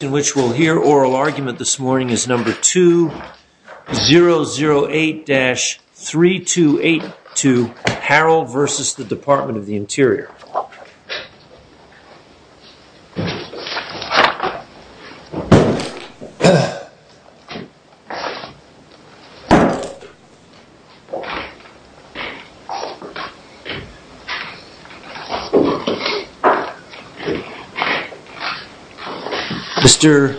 In which we'll hear oral argument this morning is number 2008-3282, Harrell v. The Department of the Interior. Mr.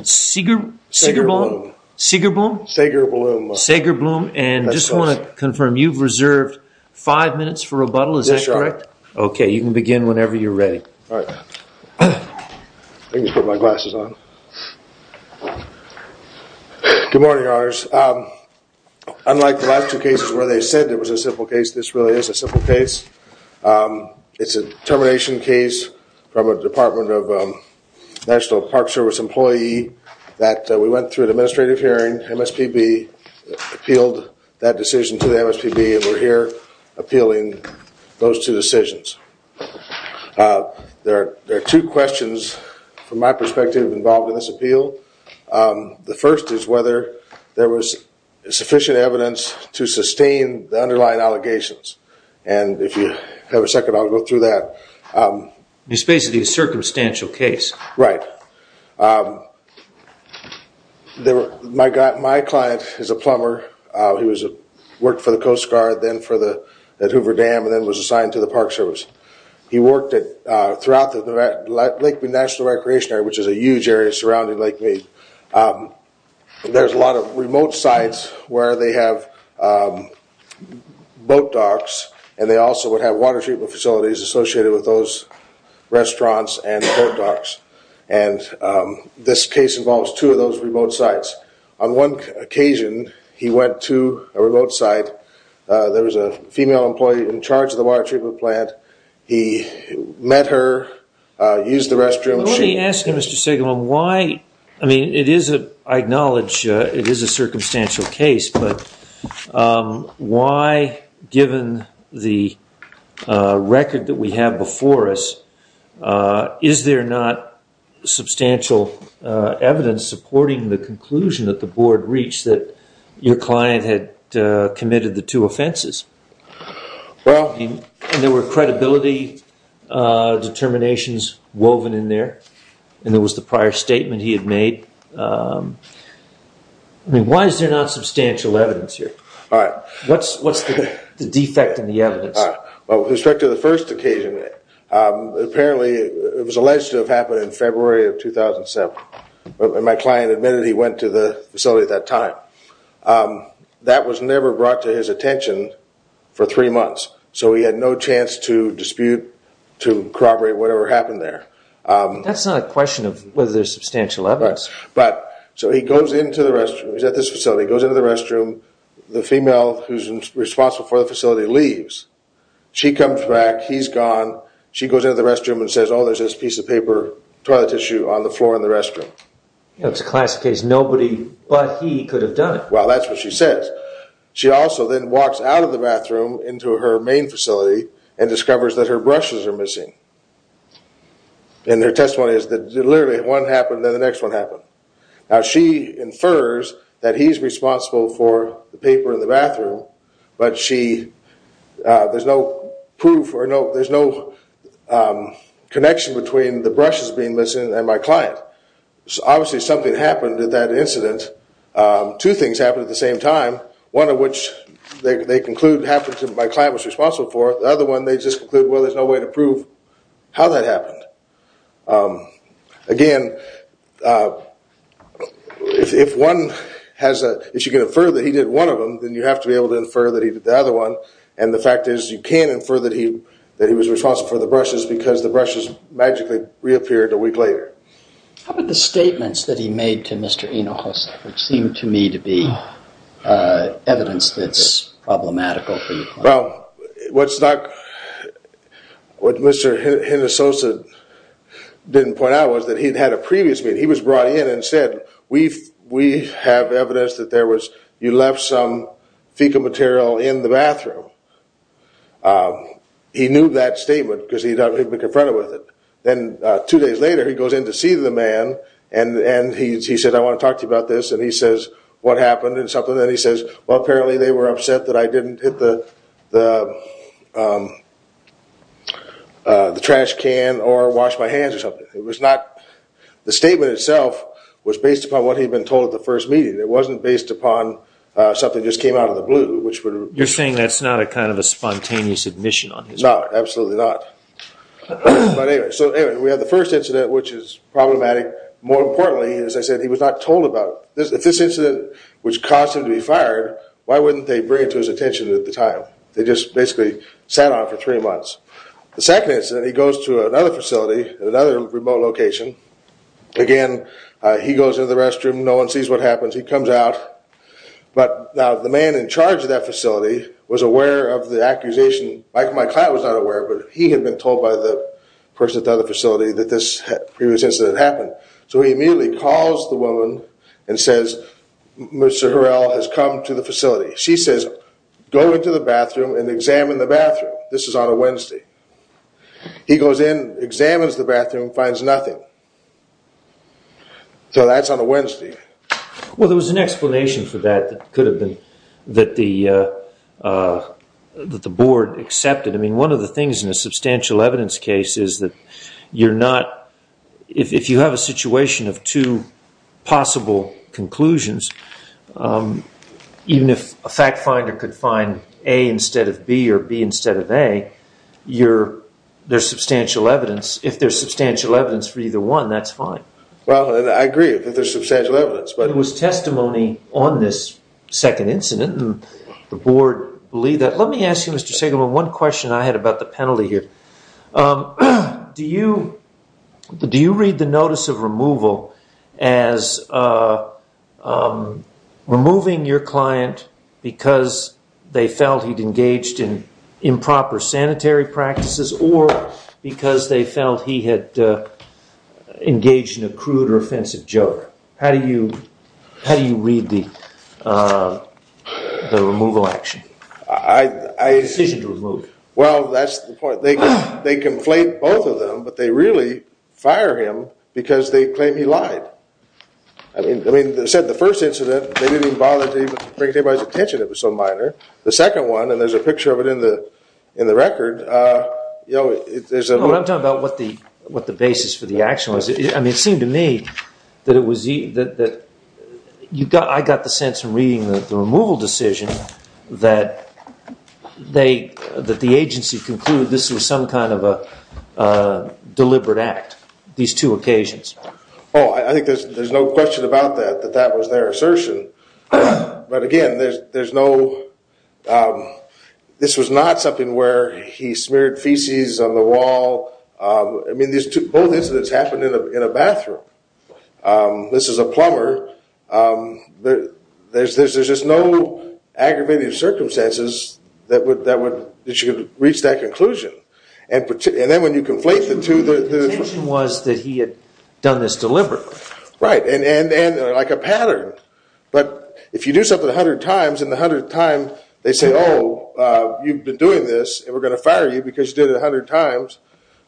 Segerblum. Segerblum. Segerblum. And I just want to confirm, you've reserved five minutes for rebuttal, is that correct? That's correct. Okay, you can begin whenever you're ready. I'm going to put my glasses on. Good morning, Your Honors. Unlike the last two cases where they said it was a simple case, this really is a simple case. It's a termination case from a Department of National Park Service employee that we went through an administrative hearing. And MSPB appealed that decision to the MSPB and we're here appealing those two decisions. There are two questions from my perspective involved in this appeal. The first is whether there was sufficient evidence to sustain the underlying allegations. And if you have a second, I'll go through that. It's basically a circumstantial case. Right. My client is a plumber. He worked for the Coast Guard, then for the Hoover Dam, and then was assigned to the Park Service. He worked throughout the Lake Mead National Recreation Area, which is a huge area surrounding Lake Mead. There's a lot of remote sites where they have boat docks. And they also would have water treatment facilities associated with those restaurants and boat docks. And this case involves two of those remote sites. On one occasion, he went to a remote site. There was a female employee in charge of the water treatment plant. He met her, used the restroom. I acknowledge it is a circumstantial case, but why, given the record that we have before us, is there not substantial evidence supporting the conclusion that the board reached that your client had committed the two offenses? There were credibility determinations woven in there. And there was the prior statement he had made. Why is there not substantial evidence here? What's the defect in the evidence? With respect to the first occasion, apparently it was alleged to have happened in February of 2007. My client admitted he went to the facility at that time. That was never brought to his attention for three months. So he had no chance to dispute, to corroborate whatever happened there. That's not a question of whether there's substantial evidence. So he goes into the restroom. He's at this facility. He goes into the restroom. The female who's responsible for the facility leaves. She comes back. He's gone. She goes into the restroom and says, oh, there's this piece of paper, toilet tissue on the floor in the restroom. It's a classic case. Nobody but he could have done it. Well, that's what she says. She also then walks out of the bathroom into her main facility and discovers that her brushes are missing. And her testimony is that literally one happened, then the next one happened. Now, she infers that he's responsible for the paper in the bathroom. But there's no proof or there's no connection between the brushes being missing and my client. Obviously, something happened at that incident. Two things happened at the same time, one of which they conclude happened to my client was responsible for. The other one they just concluded, well, there's no way to prove how that happened. Again, if you can infer that he did one of them, then you have to be able to infer that he did the other one. And the fact is you can infer that he was responsible for the brushes because the brushes magically reappeared a week later. How about the statements that he made to Mr. Hinojosa, which seemed to me to be evidence that's problematical for you? Well, what Mr. Hinojosa didn't point out was that he'd had a previous meeting. He was brought in and said, we have evidence that you left some fecal material in the bathroom. He knew that statement because he'd been confronted with it. Then two days later, he goes in to see the man and he says, I want to talk to you about this. And he says, what happened? And then he says, well, apparently they were upset that I didn't hit the trash can or wash my hands or something. The statement itself was based upon what he'd been told at the first meeting. It wasn't based upon something just came out of the blue. You're saying that's not a kind of a spontaneous admission on his part? No, absolutely not. But anyway, so we had the first incident, which is problematic. More importantly, as I said, he was not told about it. If this incident which caused him to be fired, why wouldn't they bring it to his attention at the time? They just basically sat on it for three months. The second incident, he goes to another facility, another remote location. Again, he goes into the restroom. No one sees what happens. He comes out. But now the man in charge of that facility was aware of the accusation. My client was not aware, but he had been told by the person at the other facility that this previous incident had happened. So he immediately calls the woman and says, Mr. Harrell has come to the facility. She says, go into the bathroom and examine the bathroom. This is on a Wednesday. He goes in, examines the bathroom, finds nothing. So that's on a Wednesday. Well, there was an explanation for that that the board accepted. I mean, one of the things in a substantial evidence case is that if you have a situation of two possible conclusions, even if a fact finder could find A instead of B or B instead of A, there's substantial evidence. If there's substantial evidence for either one, that's fine. Well, I agree that there's substantial evidence. There was testimony on this second incident, and the board believed that. Let me ask you, Mr. Segelman, one question I had about the penalty here. Do you read the notice of removal as removing your client because they felt he'd engaged in improper sanitary practices or because they felt he had engaged in a crude or offensive joke? How do you read the removal action, the decision to remove? Well, that's the point. They conflate both of them, but they really fire him because they claim he lied. I mean, they said the first incident, they didn't even bother to bring anybody's attention if it was so minor. The second one, and there's a picture of it in the record. I'm talking about what the basis for the action was. I mean, it seemed to me that I got the sense from reading the removal decision that the agency concluded this was some kind of a deliberate act, these two occasions. Oh, I think there's no question about that, that that was their assertion. But again, this was not something where he smeared feces on the wall. I mean, both incidents happened in a bathroom. This is a plumber. There's just no aggravating circumstances that you could reach that conclusion. The intention was that he had done this deliberately. Right, and like a pattern. But if you do something 100 times, and the 100th time they say, oh, you've been doing this, and we're going to fire you because you did it 100 times.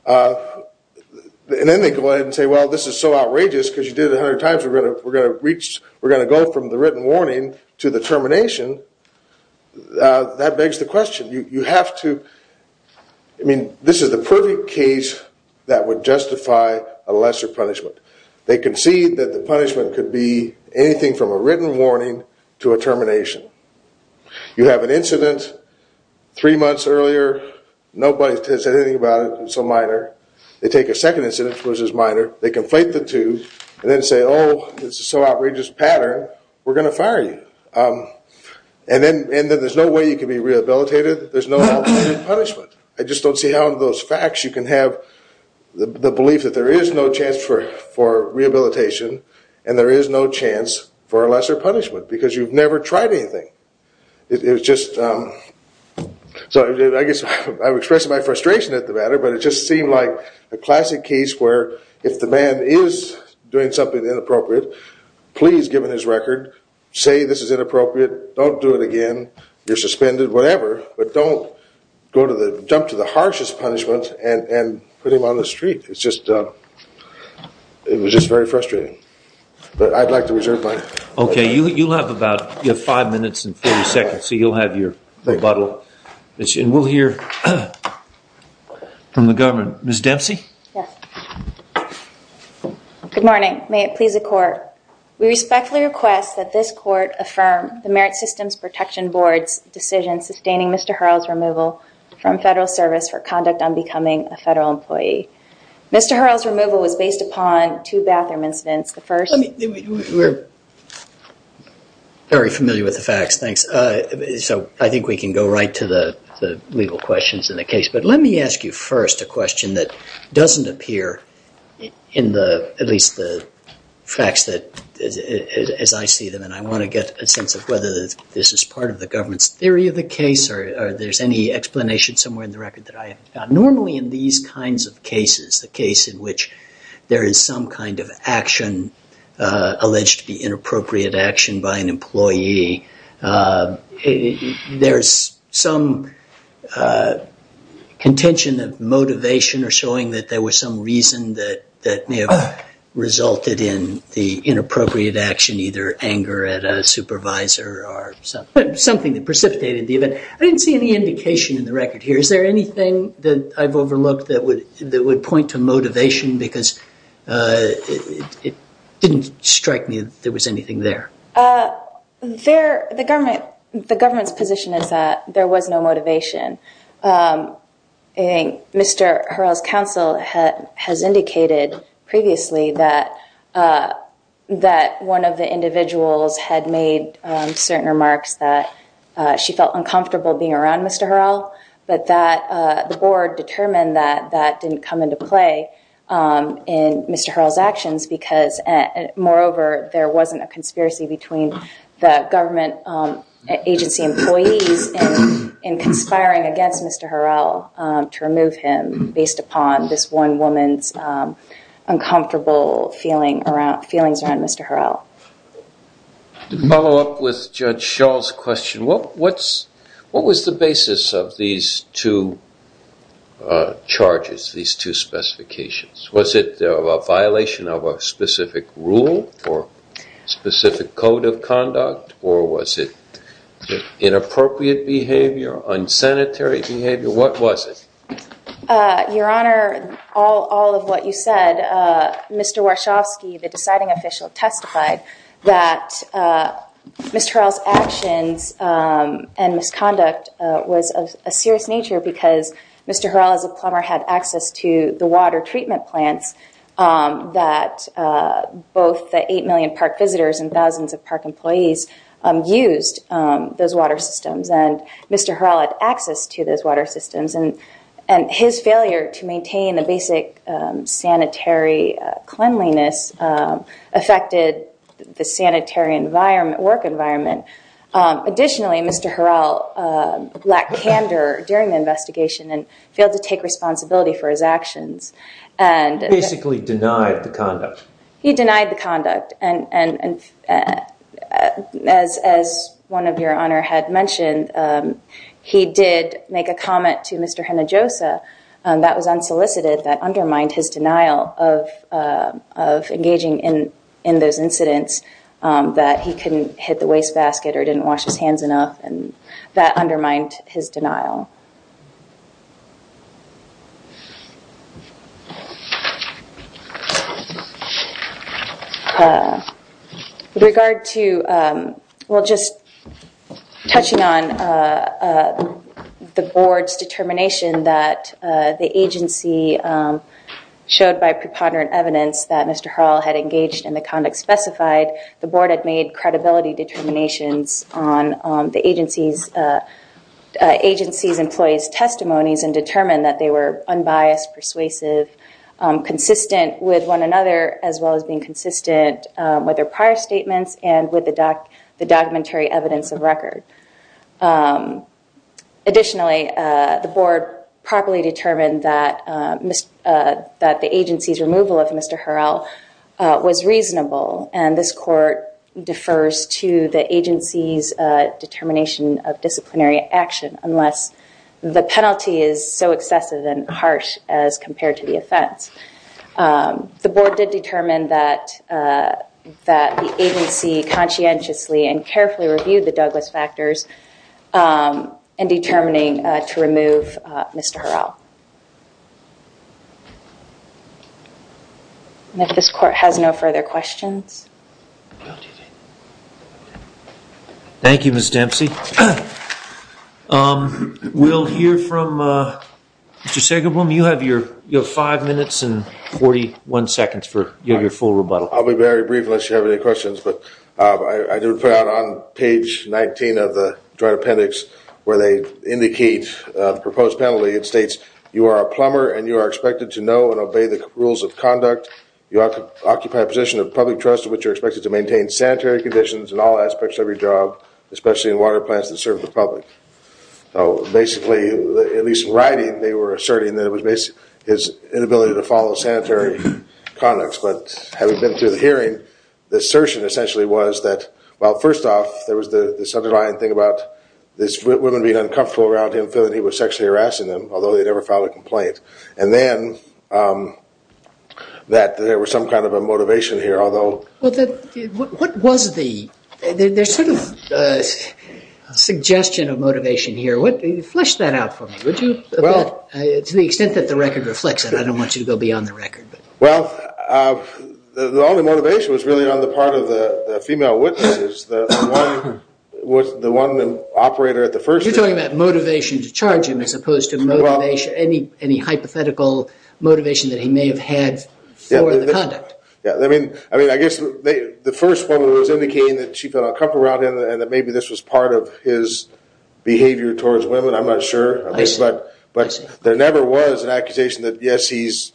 And then they go ahead and say, well, this is so outrageous because you did it 100 times, we're going to go from the written warning to the termination. That begs the question. I mean, this is the perfect case that would justify a lesser punishment. They concede that the punishment could be anything from a written warning to a termination. You have an incident three months earlier. Nobody has said anything about it. It's so minor. They take a second incident, which is minor. They conflate the two and then say, oh, this is so outrageous pattern, we're going to fire you. And then there's no way you can be rehabilitated. There's no alternative punishment. I just don't see how in those facts you can have the belief that there is no chance for rehabilitation and there is no chance for a lesser punishment because you've never tried anything. So I guess I'm expressing my frustration at the matter, but it just seemed like a classic case where if the man is doing something inappropriate, please, given his record, say this is inappropriate. Don't do it again. You're suspended, whatever, but don't jump to the harshest punishment and put him on the street. It was just very frustrating. But I'd like to reserve my time. Okay. You'll have about five minutes and 40 seconds, so you'll have your rebuttal. And we'll hear from the government. Ms. Dempsey? Yes. Good morning. May it please the court. We respectfully request that this court affirm the Merit Systems Protection Board's decision sustaining Mr. Hurrell's removal from federal service for conduct on becoming a federal employee. Mr. Hurrell's removal was based upon two bathroom incidents. We're very familiar with the facts. Thanks. So I think we can go right to the legal questions in the case. But let me ask you first a question that doesn't appear in at least the facts as I see them. And I want to get a sense of whether this is part of the government's theory of the case or there's any explanation somewhere in the record that I haven't found. Normally in these kinds of cases, the case in which there is some kind of action alleged to be inappropriate action by an employee, there's some contention of motivation or showing that there was some reason that may have resulted in the inappropriate action, either anger at a supervisor or something that precipitated the event. I didn't see any indication in the record here. Is there anything that I've overlooked that would point to motivation? Because it didn't strike me that there was anything there. The government's position is that there was no motivation. Mr. Hurrell's counsel has indicated previously that one of the individuals had made certain remarks that she felt uncomfortable being around Mr. Hurrell, but that the board determined that that didn't come into play in Mr. Hurrell's actions because, moreover, there wasn't a conspiracy between the government agency employees in conspiring against Mr. Hurrell to remove him based upon this one woman's uncomfortable feelings around Mr. Hurrell. To follow up with Judge Schall's question, what was the basis of these two charges, these two specifications? Was it a violation of a specific rule or specific code of conduct, or was it inappropriate behavior, unsanitary behavior? What was it? Your Honor, all of what you said, Mr. Warshawski, the deciding official, testified that Mr. Hurrell's actions and misconduct was of a serious nature because Mr. Hurrell, as a plumber, had access to the water treatment plants that both the 8 million park visitors and thousands of park employees used, those water systems. Mr. Hurrell had access to those water systems, and his failure to maintain the basic sanitary cleanliness affected the sanitary work environment. Additionally, Mr. Hurrell lacked candor during the investigation and failed to take responsibility for his actions. He basically denied the conduct. He denied the conduct, and as one of your Honor had mentioned, he did make a comment to Mr. Hinojosa that was unsolicited, that undermined his denial of engaging in those incidents, that he couldn't hit the wastebasket or didn't wash his hands enough, and that undermined his denial. With regard to, well, just touching on the Board's determination that the agency showed by preponderant evidence that Mr. Hurrell had engaged in the conduct specified, the Board had made credibility determinations on the agency's employees' testimonies and determined that they were unbiased, persuasive, consistent with one another, as well as being consistent with their prior statements and with the documentary evidence of record. Additionally, the Board properly determined that the agency's removal of Mr. Hurrell was reasonable, and this Court defers to the agency's determination of disciplinary action unless the penalty is so excessive and harsh as compared to the offense. The Board did determine that the agency conscientiously and carefully reviewed the Douglas factors in determining to remove Mr. Hurrell. And if this Court has no further questions. Thank you, Ms. Dempsey. We'll hear from Mr. Sagerblum. You have your five minutes and 41 seconds for your full rebuttal. I'll be very brief unless you have any questions, but I did put out on page 19 of the Joint Appendix where they indicate the proposed penalty and states you are a plumber and you are expected to know and obey the rules of conduct. You occupy a position of public trust in which you're expected to maintain sanitary conditions in all aspects of your job, especially in water plants that serve the public. So basically, at least in writing, they were asserting that it was his inability to follow sanitary conducts, but having been through the hearing, the assertion essentially was that, well, first off, there was this underlying thing about these women being uncomfortable around him feeling he was sexually harassing them, although they never filed a complaint. And then that there was some kind of a motivation here, although. What was the sort of suggestion of motivation here? Flesh that out for me, would you, to the extent that the record reflects it. I don't want you to go beyond the record. Well, the only motivation was really on the part of the female witnesses, the one operator at the first. You're talking about motivation to charge him as opposed to any hypothetical motivation that he may have had for the conduct. I mean, I guess the first woman was indicating that she felt uncomfortable around him and that maybe this was part of his behavior towards women, I'm not sure. But there never was an accusation that, yes, he's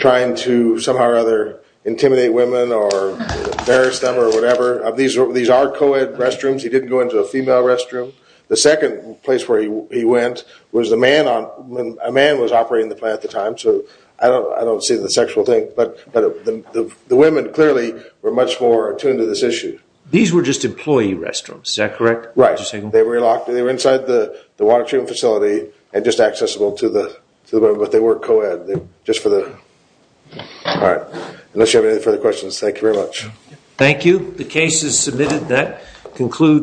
trying to somehow or other intimidate women or embarrass them or whatever. These are co-ed restrooms. He didn't go into a female restroom. The second place where he went was a man was operating the plant at the time, so I don't see the sexual thing. But the women clearly were much more attuned to this issue. These were just employee restrooms. Is that correct? Right. They were inside the water treatment facility and just accessible to the women, but they weren't co-ed. Just for the... All right. Unless you have any further questions, thank you very much. Thank you. The case is submitted. That concludes...